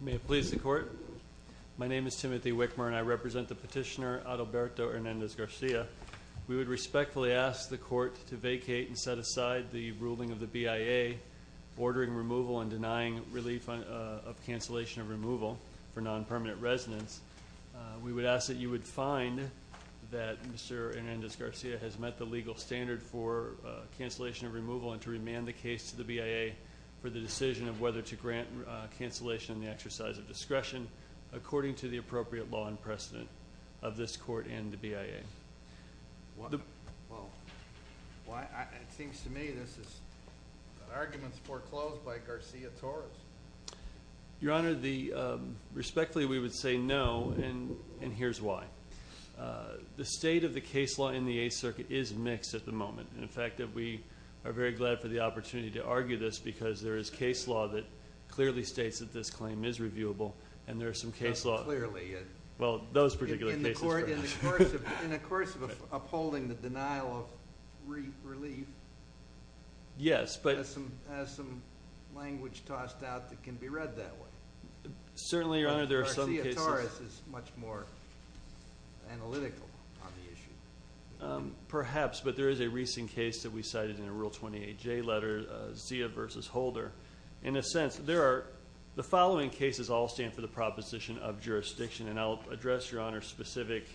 May it please the Court, my name is Timothy Wickmer and I represent the petitioner Adalberto Hernandez-Garcia. We would respectfully ask the Court to vacate and set aside the ruling of the BIA ordering removal and denying relief of cancellation of removal for non-permanent residents. We would ask that you would find that Mr. Hernandez-Garcia has met the legal standard for cancellation of removal and to remand the case to the BIA for the decision of whether to grant cancellation in the exercise of discretion according to the appropriate law and precedent of this Court and the BIA. Well, it seems to me this is an argument foreclosed by Garcia-Torres. Your Honor, respectfully we would say no and here's why. The state of the case law in the Eighth Circuit is mixed at the moment. In fact, we are very glad for the opportunity to argue this because there is case law that clearly states that this claim is reviewable and there is some case law... Not clearly. Well, those particular cases perhaps. In the course of upholding the denial of relief, there's some language tossed out that can be read that way. Certainly, Your Honor, there are some cases... Garcia-Torres is much more analytical on the issue. Perhaps, but there is a recent case that we cited in a Rule 28J letter, Zia v. Holder. In a sense, the following cases all stand for the proposition of jurisdiction and I'll address, Your Honor, specific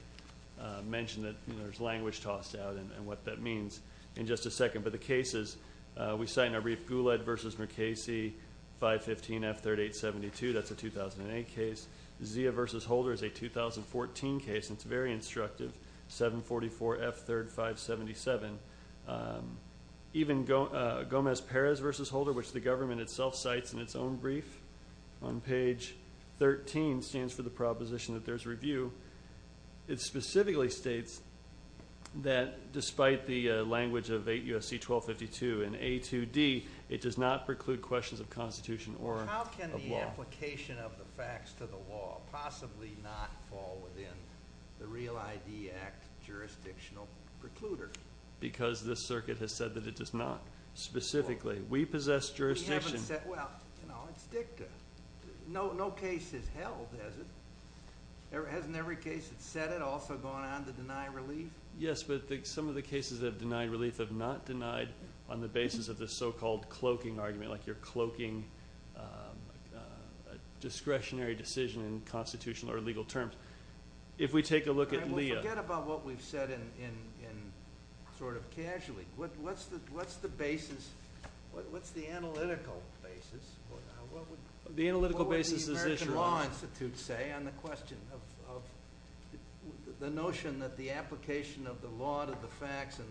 mention that there's language tossed out and what that means in just a second. But the cases we cite in our brief, Guled v. Mercasey, 515F3872, that's a 2008 case. Zia v. Holder is a 2014 case and it's very instructive, 744F3577. Even Gomez-Perez v. Holder, which the government itself cites in its own brief on page 13, which again stands for the proposition that there's review, it specifically states that despite the language of 8 U.S.C. 1252 and A2D, it does not preclude questions of Constitution or of law. How can the application of the facts to the law possibly not fall within the Real ID Act jurisdictional precluder? Because this circuit has said that it does not. Specifically, we possess jurisdiction... Well, it's dicta. No case has held, has it? Hasn't every case that's said it also gone on to deny relief? Yes, but some of the cases that have denied relief have not denied on the basis of the so-called cloaking argument, like you're cloaking a discretionary decision in constitutional or legal terms. If we take a look at Leah... Forget about what we've said in sort of casually. What's the basis? What's the analytical basis? The analytical basis is this, Your Honor. What would the American Law Institute say on the question of the notion that the application of the law to the facts and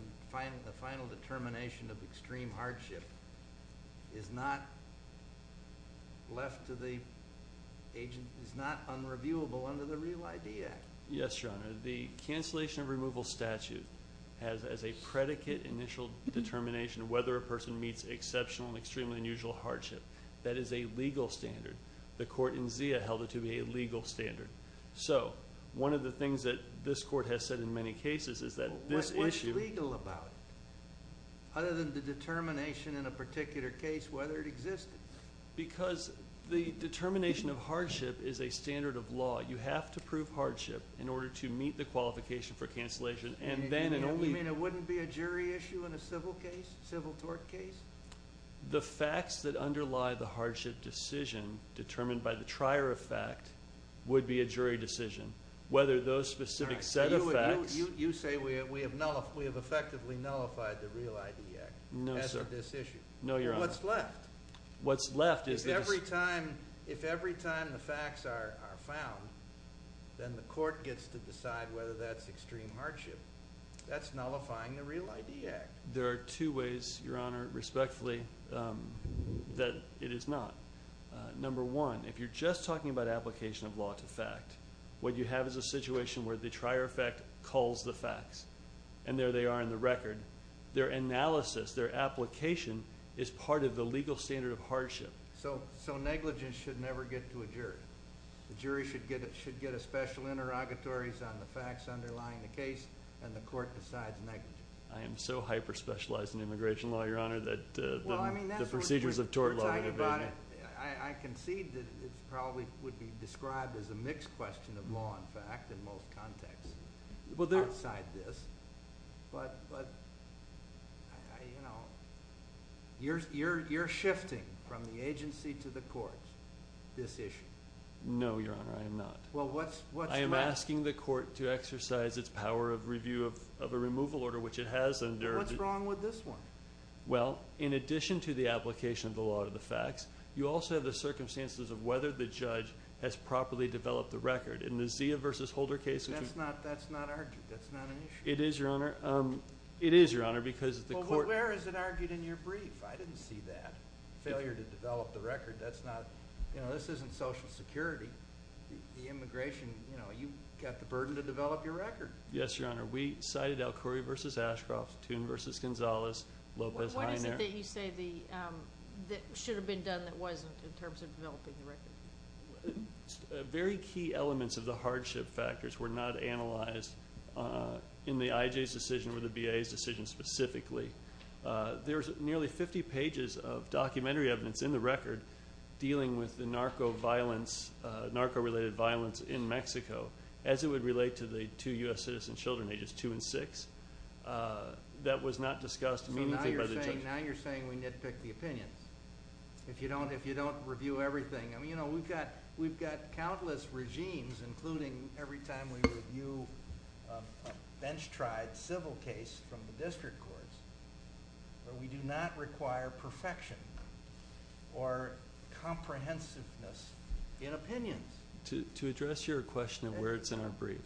the final determination of extreme hardship is not left to the agent, is not unreviewable under the Real ID Act? Yes, Your Honor. The cancellation of removal statute has as a predicate initial determination of whether a person meets exceptional and extremely unusual hardship. That is a legal standard. The court in Zia held it to be a legal standard. So one of the things that this court has said in many cases is that this issue... What's legal about it other than the determination in a particular case whether it existed? Because the determination of hardship is a standard of law. You have to prove hardship in order to meet the qualification for cancellation. You mean it wouldn't be a jury issue in a civil case, civil tort case? The facts that underlie the hardship decision determined by the trier of fact would be a jury decision. Whether those specific set of facts... You say we have effectively nullified the Real ID Act as to this issue. No, Your Honor. What's left? If every time the facts are found, then the court gets to decide whether that's extreme hardship. That's nullifying the Real ID Act. There are two ways, Your Honor, respectfully, that it is not. Number one, if you're just talking about application of law to fact, what you have is a situation where the trier of fact calls the facts, and there they are in the record. Their analysis, their application is part of the legal standard of hardship. So negligence should never get to a jury. The jury should get a special interrogatories on the facts underlying the case, and the court decides negligence. I am so hyper-specialized in immigration law, Your Honor, that the procedures of tort law... I concede that it probably would be described as a mixed question of law and fact in most contexts outside this. But, you know, you're shifting from the agency to the courts this issue. No, Your Honor, I am not. Well, what's wrong? I am asking the court to exercise its power of review of a removal order, which it has under... Well, what's wrong with this one? Well, in addition to the application of the law to the facts, you also have the circumstances of whether the judge has properly developed the record. In the Zia v. Holder case... That's not argued. That's not an issue. It is, Your Honor. It is, Your Honor, because the court... Well, where is it argued in your brief? I didn't see that. Failure to develop the record, that's not... You know, this isn't Social Security. The immigration, you know, you've got the burden to develop your record. Yes, Your Honor. We cited Alcori v. Ashcroft, Toon v. Gonzalez, Lopez-Ainar... What is it that you say that should have been done that wasn't in terms of developing the record? Very key elements of the hardship factors were not analyzed in the IJ's decision or the VA's decision specifically. There's nearly 50 pages of documentary evidence in the record dealing with the narco-related violence in Mexico, as it would relate to the two U.S. citizen children, ages 2 and 6, that was not discussed meaningfully by the judge. So now you're saying we nitpick the opinions. If you don't review everything. I mean, you know, we've got countless regimes, including every time we review a bench-tried civil case from the district courts, where we do not require perfection or comprehensiveness in opinions. To address your question of where it's in our brief,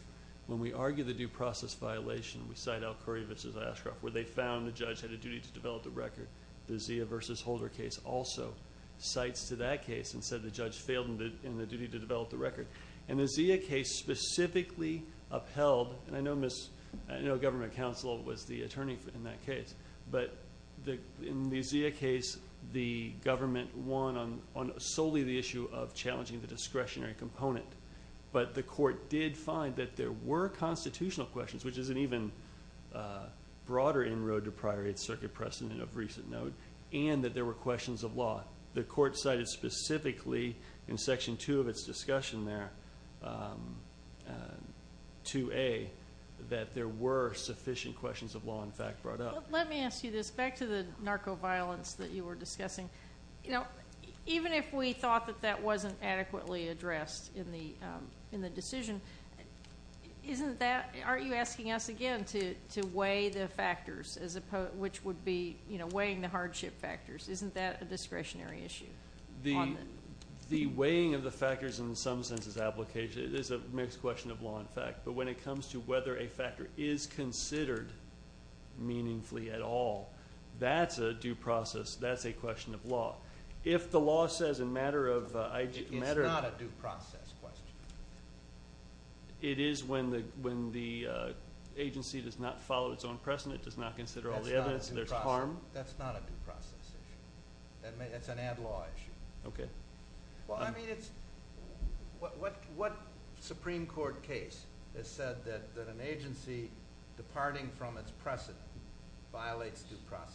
when we argue the due process violation, we cite Alcori v. Ashcroft, where they found the judge had a duty to develop the record. The Zia v. Holder case also cites to that case and said the judge failed in the duty to develop the record. And the Zia case specifically upheld, and I know government counsel was the attorney in that case, but in the Zia case the government won on solely the issue of challenging the discretionary component, but the court did find that there were constitutional questions, which is an even broader inroad to prioritize circuit precedent of recent note, and that there were questions of law. The court cited specifically in Section 2 of its discussion there, 2A, that there were sufficient questions of law, in fact, brought up. Let me ask you this. Back to the narco-violence that you were discussing. You know, even if we thought that that wasn't adequately addressed in the decision, aren't you asking us again to weigh the factors, which would be weighing the hardship factors? Isn't that a discretionary issue? The weighing of the factors in some sense is a mixed question of law and fact, but when it comes to whether a factor is considered meaningfully at all, that's a due process, that's a question of law. If the law says in a matter of IGA... It's not a due process question. It is when the agency does not follow its own precedent, does not consider all the evidence, and there's harm. That's not a due process issue. That's an ad law issue. Okay. Well, I mean, it's... What Supreme Court case has said that an agency departing from its precedent violates due process?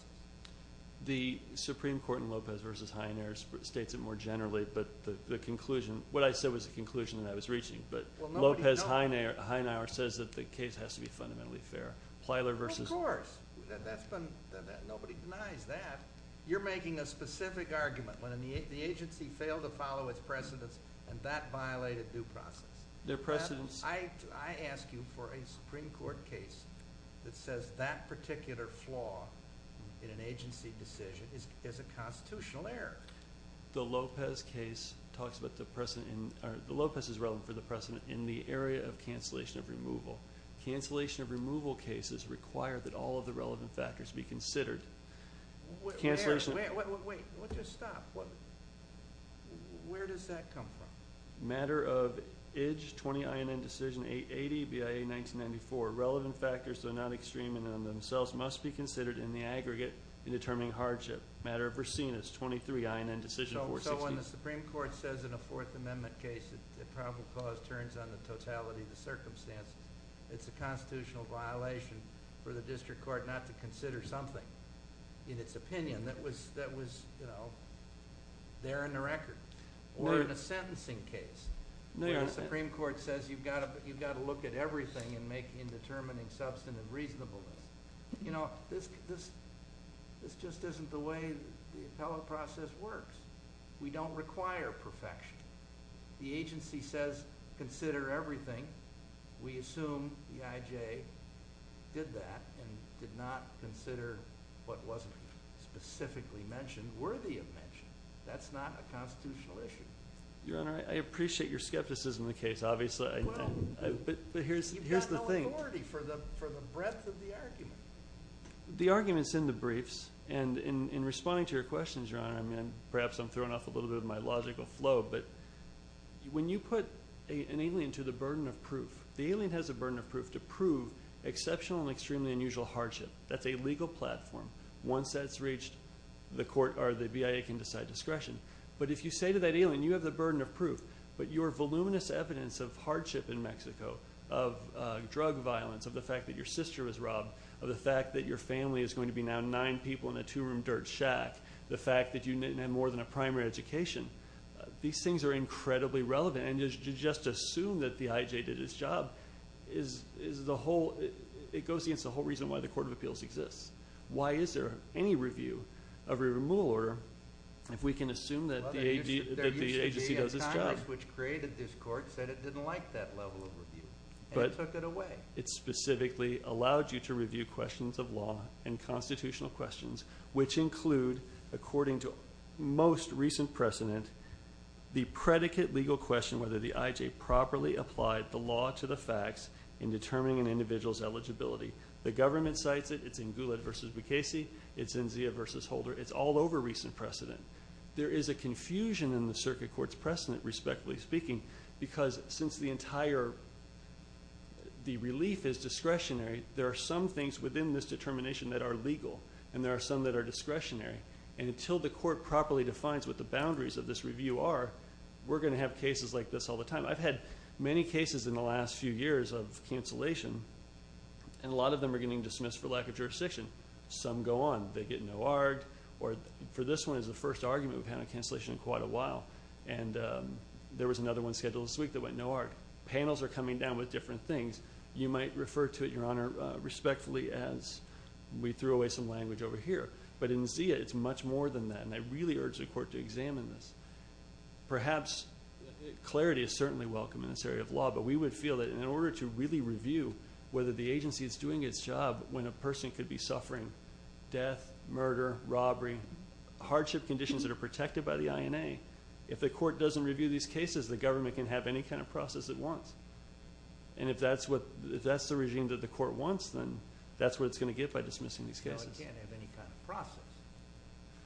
The Supreme Court in Lopez v. Heiner states it more generally, but the conclusion... What I said was the conclusion that I was reaching, but Lopez-Heiner says that the case has to be fundamentally fair. Plyler v... Of course. Nobody denies that. You're making a specific argument when the agency failed to follow its precedents, and that violated due process. Their precedents... is a constitutional error. The Lopez case talks about the precedent in... The Lopez is relevant for the precedent in the area of cancellation of removal. Cancellation of removal cases require that all of the relevant factors be considered. Cancellation... Wait, wait, wait. Just stop. Where does that come from? Matter of IJ 20 INN Decision 880, BIA 1994. Relevant factors, though not extreme in and of themselves, must be considered in the aggregate in determining hardship. Matter of Vercina 23 INN Decision 460. So when the Supreme Court says in a Fourth Amendment case that probable cause turns on the totality of the circumstances, it's a constitutional violation for the district court not to consider something, in its opinion, that was there in the record. Or in a sentencing case, where the Supreme Court says you've got to look at everything in determining substantive reasonableness. You know, this just isn't the way the appellate process works. We don't require perfection. The agency says consider everything. We assume the IJ did that and did not consider what wasn't specifically mentioned worthy of mention. That's not a constitutional issue. Your Honor, I appreciate your skepticism of the case, obviously. But here's the thing. You've got no authority for the breadth of the argument. The argument's in the briefs. And in responding to your questions, Your Honor, and perhaps I'm throwing off a little bit of my logical flow, but when you put an alien to the burden of proof, the alien has a burden of proof to prove exceptional and extremely unusual hardship. That's a legal platform. Once that's reached, the BIA can decide discretion. But if you say to that alien, you have the burden of proof, but your voluminous evidence of hardship in Mexico, of drug violence, of the fact that your sister was robbed, of the fact that your family is going to be now nine people in a two-room dirt shack, the fact that you didn't have more than a primary education, these things are incredibly relevant. And to just assume that the IJ did its job, it goes against the whole reason why the Court of Appeals exists. Why is there any review of a removal order if we can assume that the agency does its job? Well, there used to be a timeless which created this Court, said it didn't like that level of review, and took it away. But it specifically allowed you to review questions of law and constitutional questions, which include, according to most recent precedent, the predicate legal question whether the IJ properly applied the law to the facts in determining an individual's eligibility. The government cites it. It's in Goulet v. Bukhesi. It's in Zia v. Holder. It's all over recent precedent. There is a confusion in the circuit court's precedent, respectfully speaking, because since the entire relief is discretionary, there are some things within this determination that are legal, and there are some that are discretionary. And until the court properly defines what the boundaries of this review are, we're going to have cases like this all the time. I've had many cases in the last few years of cancellation, and a lot of them are getting dismissed for lack of jurisdiction. Some go on. They get no argued. For this one, it was the first argument we've had on cancellation in quite a while. And there was another one scheduled this week that went no argued. Panels are coming down with different things. You might refer to it, Your Honor, respectfully, as we threw away some language over here. But in Zia, it's much more than that, and I really urge the Court to examine this. Perhaps clarity is certainly welcome in this area of law, but we would feel that in order to really review whether the agency is doing its job when a person could be suffering death, murder, robbery, hardship conditions that are protected by the INA, if the Court doesn't review these cases, the government can have any kind of process it wants. And if that's the regime that the Court wants, then that's what it's going to get by dismissing these cases. No, it can't have any kind of process.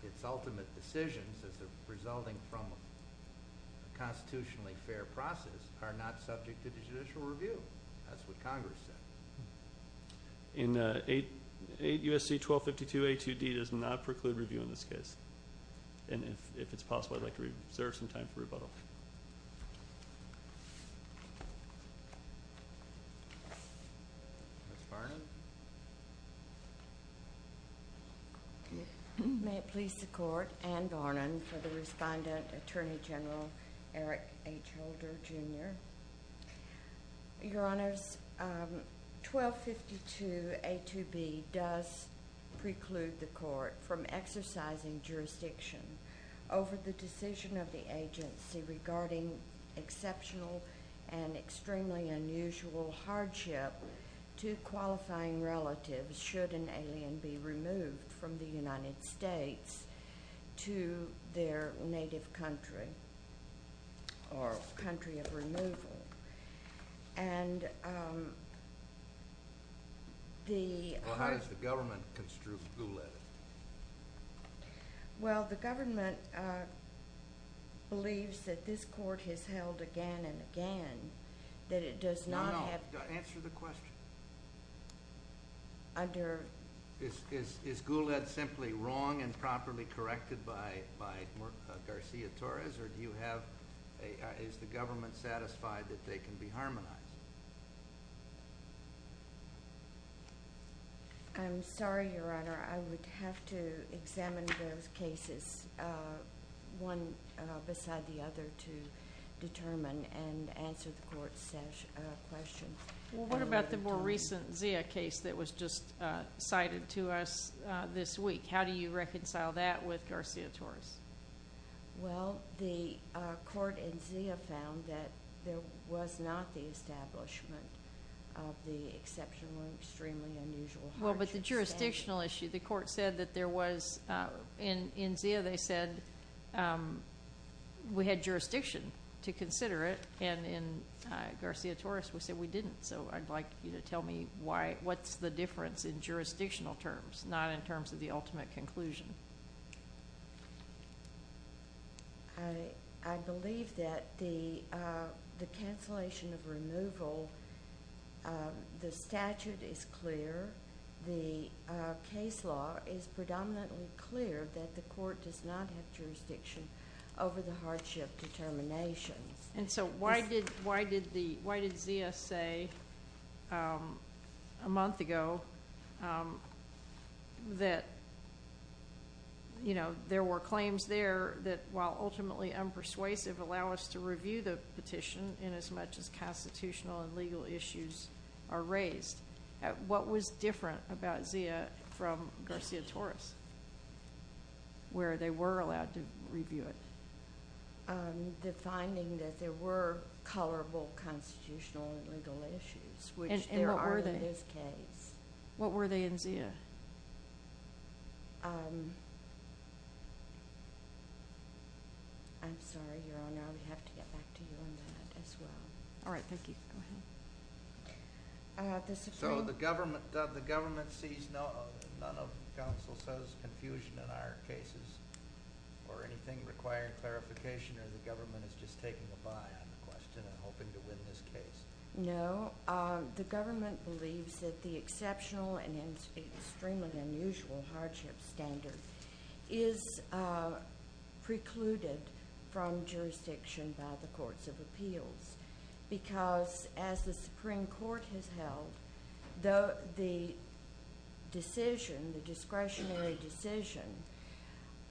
Its ultimate decisions, as they're resulting from a constitutionally fair process, are not subject to judicial review. That's what Congress said. In 8 U.S.C. 1252A2D does not preclude review in this case. And if it's possible, I'd like to reserve some time for rebuttal. Ms. Barnum? May it please the Court, Ann Barnum for the respondent, Attorney General Eric H. Holder, Jr. Your Honors, 1252A2B does preclude the Court from exercising jurisdiction over the decision of the agency regarding exceptional and extremely unusual hardship to qualifying relatives should an alien be removed from the United States to their native country or country of removal. Well, how does the government construe who led it? Well, the government believes that this Court has held again and again that it does not have... No, no. Answer the question. Is Goulet simply wrong and properly corrected by Garcia-Torres, or is the government satisfied that they can be harmonized? I'm sorry, Your Honor. I would have to examine those cases one beside the other to determine and answer the Court's question. Well, what about the more recent Zia case that was just cited to us this week? How do you reconcile that with Garcia-Torres? Well, the Court and Zia found that there was not the establishment of the exceptional and extremely unusual hardship. Well, but the jurisdictional issue, the Court said that there was... In Zia, they said we had jurisdiction to consider it, and in Garcia-Torres, we said we didn't. So I'd like you to tell me what's the difference in jurisdictional terms, not in terms of the ultimate conclusion. I believe that the cancellation of removal, the statute is clear. The case law is predominantly clear that the Court does not have jurisdiction over the hardship determinations. And so why did Zia say a month ago that there were claims there that, while ultimately unpersuasive, allow us to review the petition inasmuch as constitutional and legal issues are raised? What was different about Zia from Garcia-Torres, where they were allowed to review it? The finding that there were colorable constitutional and legal issues, which there are in this case. And what were they? What were they in Zia? I'm sorry, Your Honor. I'm going to have to get back to you on that as well. All right. Thank you. Go ahead. So the government sees none of counsel says confusion in our cases or anything requiring clarification, or the government is just taking a buy on the question and hoping to win this case? No. The government believes that the exceptional and extremely unusual hardship standard is precluded from jurisdiction by the courts of appeals because, as the Supreme Court has held, the discretionary decision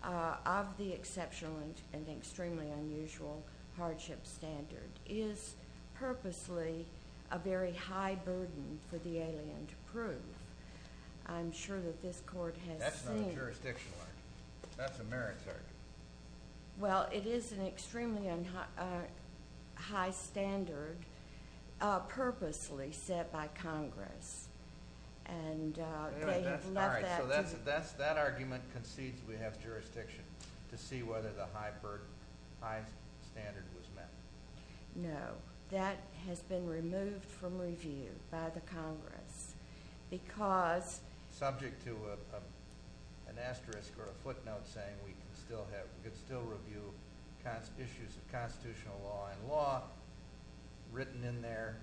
of the exceptional and extremely unusual hardship standard is purposely a very high burden for the alien to prove. I'm sure that this Court has seen. That's not a jurisdictional argument. That's a merit argument. Well, it is an extremely high standard purposely set by Congress. All right. So that argument concedes we have jurisdiction to see whether the high standard was met. No. That has been removed from review by the Congress because... we could still review issues of constitutional law and law written in there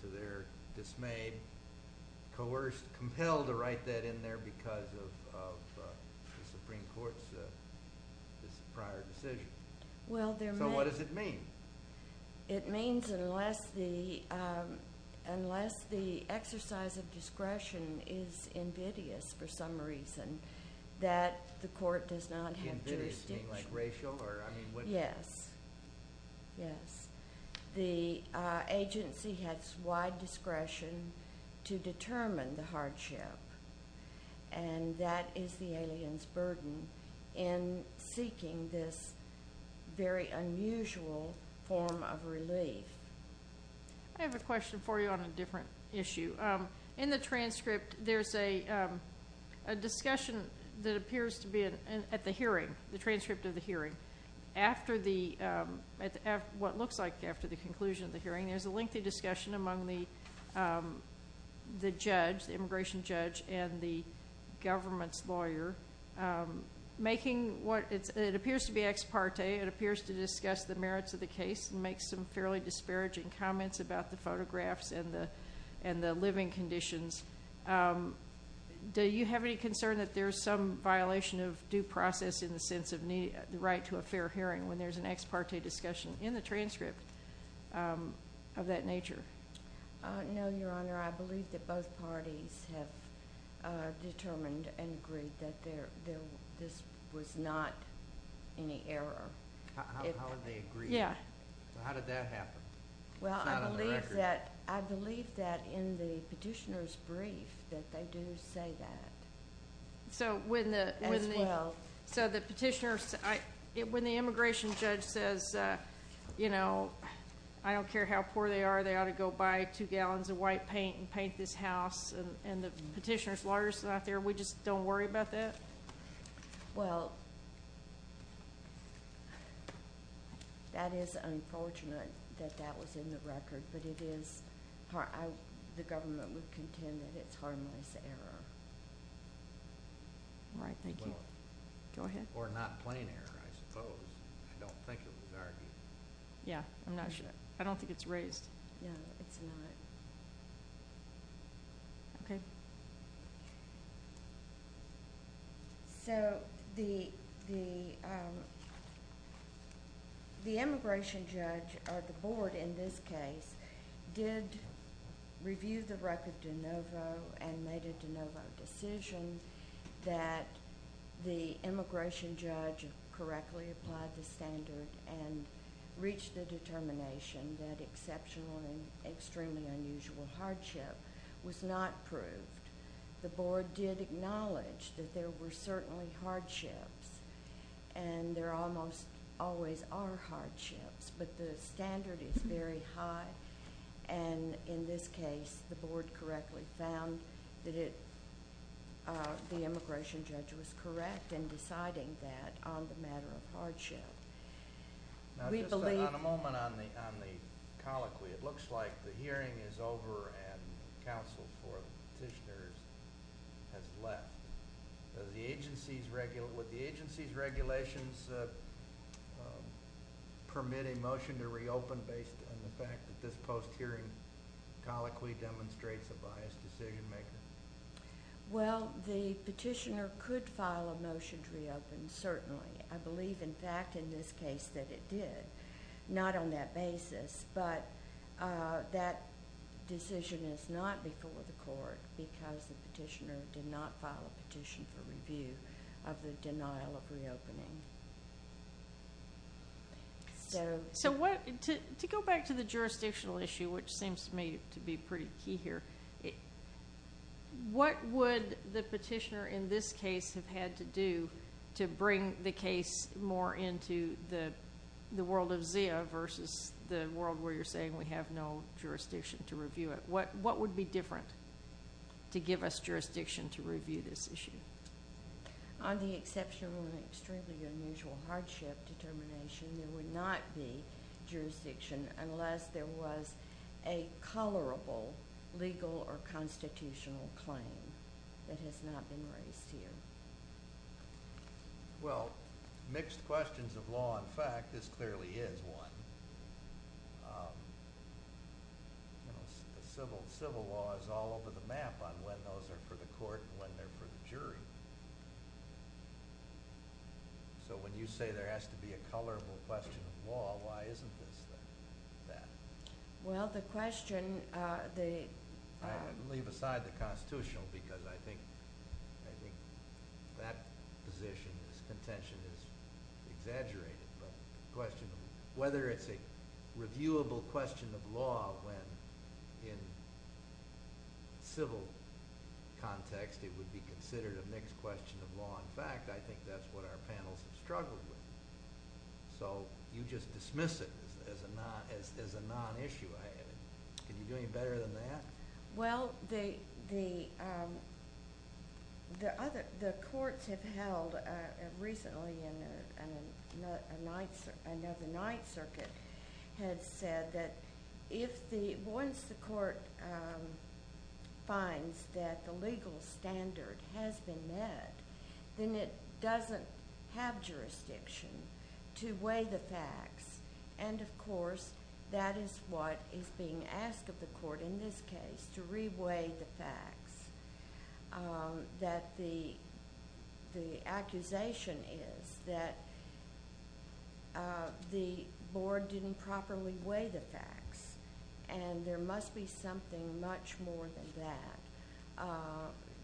to their dismay, coerced, compelled to write that in there because of the Supreme Court's prior decision. So what does it mean? It means unless the exercise of discretion is invidious for some reason that the Court does not have jurisdiction. Invidious? You mean like racial? Yes. Yes. The agency has wide discretion to determine the hardship, and that is the alien's burden in seeking this very unusual form of relief. I have a question for you on a different issue. In the transcript, there's a discussion that appears to be at the hearing, the transcript of the hearing. What looks like after the conclusion of the hearing, there's a lengthy discussion among the judge, the immigration judge, and the government's lawyer. It appears to be ex parte. It appears to discuss the merits of the case and make some fairly disparaging comments about the photographs and the living conditions. Do you have any concern that there's some violation of due process in the sense of the right to a fair hearing when there's an ex parte discussion in the transcript of that nature? No, Your Honor. I believe that both parties have determined and agreed that this was not any error. How did they agree? Yes. How did that happen? It's not on the record. Well, I believe that in the petitioner's brief that they do say that as well. So when the immigration judge says, you know, I don't care how poor they are, they ought to go buy two gallons of white paint and paint this house, and the petitioner's lawyer's not there, we just don't worry about that? Well, that is unfortunate that that was in the record, but the government would contend that it's harmless error. All right, thank you. Go ahead. Or not plain error, I suppose. I don't think it was argued. Yeah, I'm not sure. I don't think it's raised. Yeah, it's not. Okay. So the immigration judge, or the board in this case, did review the record de novo and made a de novo decision that the immigration judge correctly applied the standard and reached the determination that exceptional and extremely unusual hardship was not proved. The board did acknowledge that there were certainly hardships, and there almost always are hardships, but the standard is very high, and in this case the board correctly found that the immigration judge was correct in deciding that on the matter of hardship. Now, just on a moment on the colloquy, it looks like the hearing is over and counsel for the petitioners has left. Would the agency's regulations permit a motion to reopen based on the fact that this post-hearing colloquy demonstrates a biased decision-maker? Well, the petitioner could file a motion to reopen, certainly. I believe, in fact, in this case that it did, not on that basis, but that decision is not before the court because the petitioner did not file a petition for review of the denial of reopening. So to go back to the jurisdictional issue, which seems to me to be pretty key here, what would the petitioner in this case have had to do to bring the case more into the world of ZIA versus the world where you're saying we have no jurisdiction to review it? What would be different to give us jurisdiction to review this issue? On the exceptional and extremely unusual hardship determination, there would not be jurisdiction unless there was a colorable legal or constitutional claim that has not been raised here. Well, mixed questions of law and fact, this clearly is one. Civil law is all over the map on when those are for the court and when they're for the jury. So when you say there has to be a colorable question of law, why isn't this that? Well, the question, the – I'm going to leave aside the constitutional because I think that position, this contention is exaggerated. But the question of whether it's a reviewable question of law when in civil context it would be considered a mixed question of law. In fact, I think that's what our panels have struggled with. So you just dismiss it as a non-issue. Can you do any better than that? Well, the courts have held recently in another Ninth Circuit had said that if the – once the court finds that the legal standard has been met, then it doesn't have jurisdiction to weigh the facts. And, of course, that is what is being asked of the court in this case, to re-weigh the facts. That the accusation is that the board didn't properly weigh the facts. And there must be something much more than that.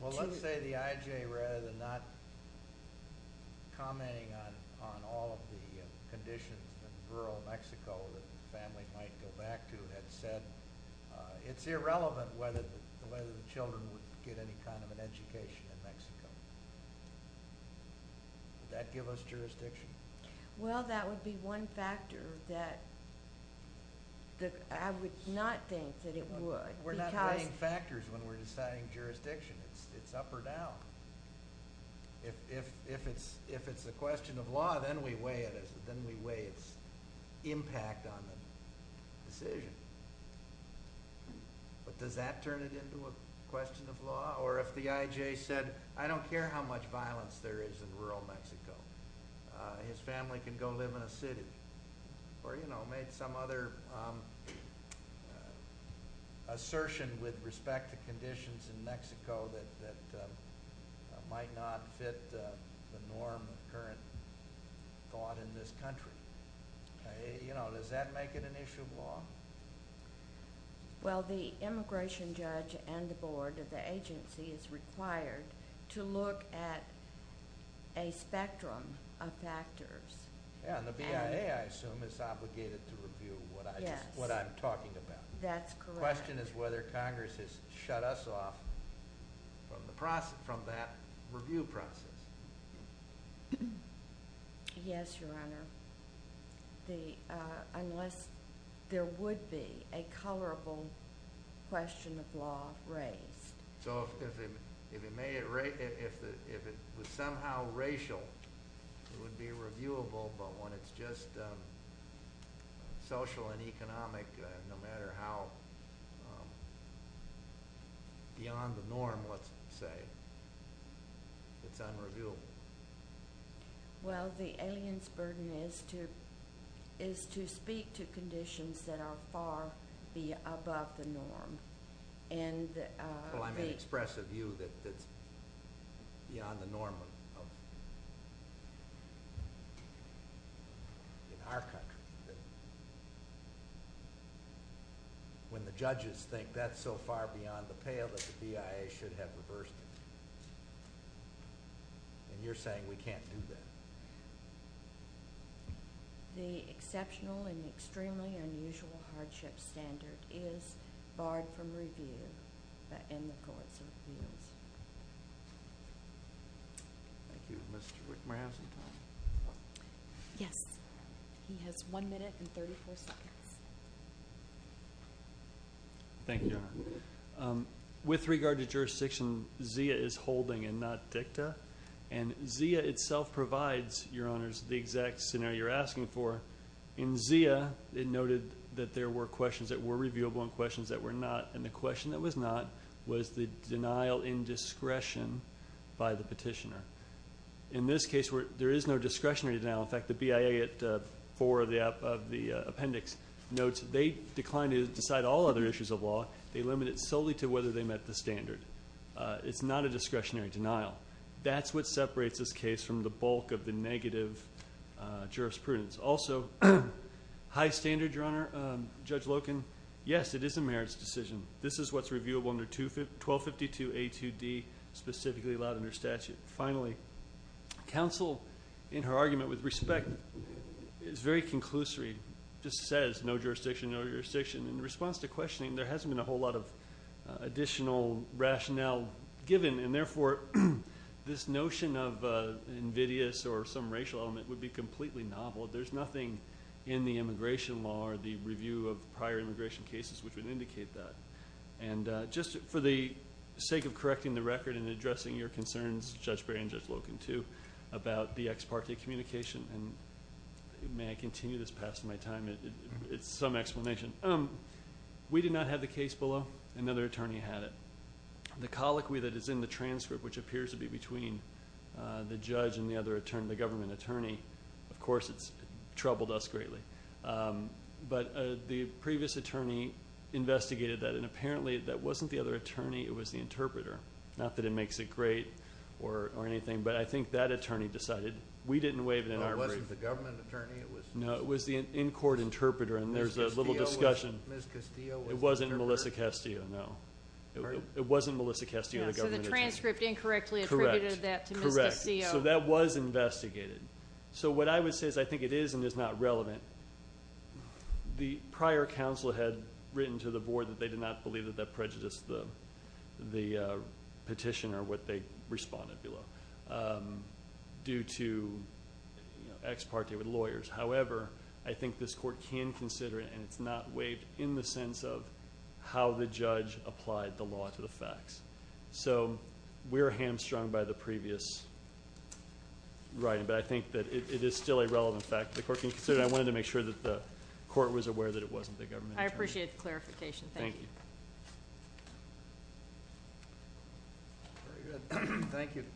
Well, let's say the IJ, rather than not commenting on all of the conditions in rural Mexico that the family might go back to, it's irrelevant whether the children would get any kind of an education in Mexico. Would that give us jurisdiction? Well, that would be one factor that I would not think that it would. We're not weighing factors when we're deciding jurisdiction. It's up or down. If it's a question of law, then we weigh its impact on the decision. But does that turn it into a question of law? Or if the IJ said, I don't care how much violence there is in rural Mexico. His family can go live in a city. Or, you know, made some other assertion with respect to conditions in Mexico that might not fit the norm of current thought in this country. You know, does that make it an issue of law? Well, the immigration judge and the board of the agency is required to look at a spectrum of factors. Yeah, and the BIA, I assume, is obligated to review what I'm talking about. That's correct. My question is whether Congress has shut us off from that review process. Yes, Your Honor. Unless there would be a colorable question of law raised. So if it was somehow racial, it would be reviewable. But when it's just social and economic, no matter how beyond the norm, let's say, it's unreviewable. Well, the alien's burden is to speak to conditions that are far above the norm. Well, I'm going to express a view that's beyond the norm in our country. When the judges think that's so far beyond the pale that the BIA should have reversed it. And you're saying we can't do that. The exceptional and extremely unusual hardship standard is barred from review in the courts of appeals. Thank you. Mr. Rickmore, have some time. Yes. He has one minute and 34 seconds. Thank you, Your Honor. With regard to jurisdiction, ZIA is holding and not DICTA. And ZIA itself provides, Your Honors, the exact scenario you're asking for. In ZIA, it noted that there were questions that were reviewable and questions that were not. And the question that was not was the denial in discretion by the petitioner. In this case, there is no discretionary denial. In fact, the BIA at 4 of the appendix notes they declined to decide all other issues of law. They limit it solely to whether they met the standard. It's not a discretionary denial. That's what separates this case from the bulk of the negative jurisprudence. Also, high standard, Your Honor, Judge Loken. Yes, it is a merits decision. This is what's reviewable under 1252A2D, specifically allowed under statute. Finally, counsel, in her argument with respect, is very conclusory. Just says no jurisdiction, no jurisdiction. In response to questioning, there hasn't been a whole lot of additional rationale given, and, therefore, this notion of invidious or some racial element would be completely novel. There's nothing in the immigration law or the review of prior immigration cases which would indicate that. And just for the sake of correcting the record and addressing your concerns, Judge Berry and Judge Loken, too, about the ex parte communication, and may I continue this past my time? It's some explanation. We did not have the case below. Another attorney had it. The colloquy that is in the transcript, which appears to be between the judge and the other attorney, the government attorney, of course, it's troubled us greatly. But the previous attorney investigated that, and apparently that wasn't the other attorney. It was the interpreter. Not that it makes it great or anything, but I think that attorney decided. We didn't waive it in our brief. It wasn't the government attorney. No, it was the in-court interpreter, and there's a little discussion. Ms. Castillo was the interpreter. It wasn't Melissa Castillo, no. It wasn't Melissa Castillo, the government attorney. So the transcript incorrectly attributed that to Ms. Castillo. Correct. So that was investigated. So what I would say is I think it is and is not relevant. The prior counsel had written to the board that they did not believe that that prejudiced the petition or what they responded below due to ex parte with lawyers. However, I think this court can consider it, and it's not waived in the sense of how the judge applied the law to the facts. So we're hamstrung by the previous writing, but I think that it is still a relevant fact. The court can consider it. I wanted to make sure that the court was aware that it wasn't the government attorney. I appreciate the clarification. Thank you. Thank you.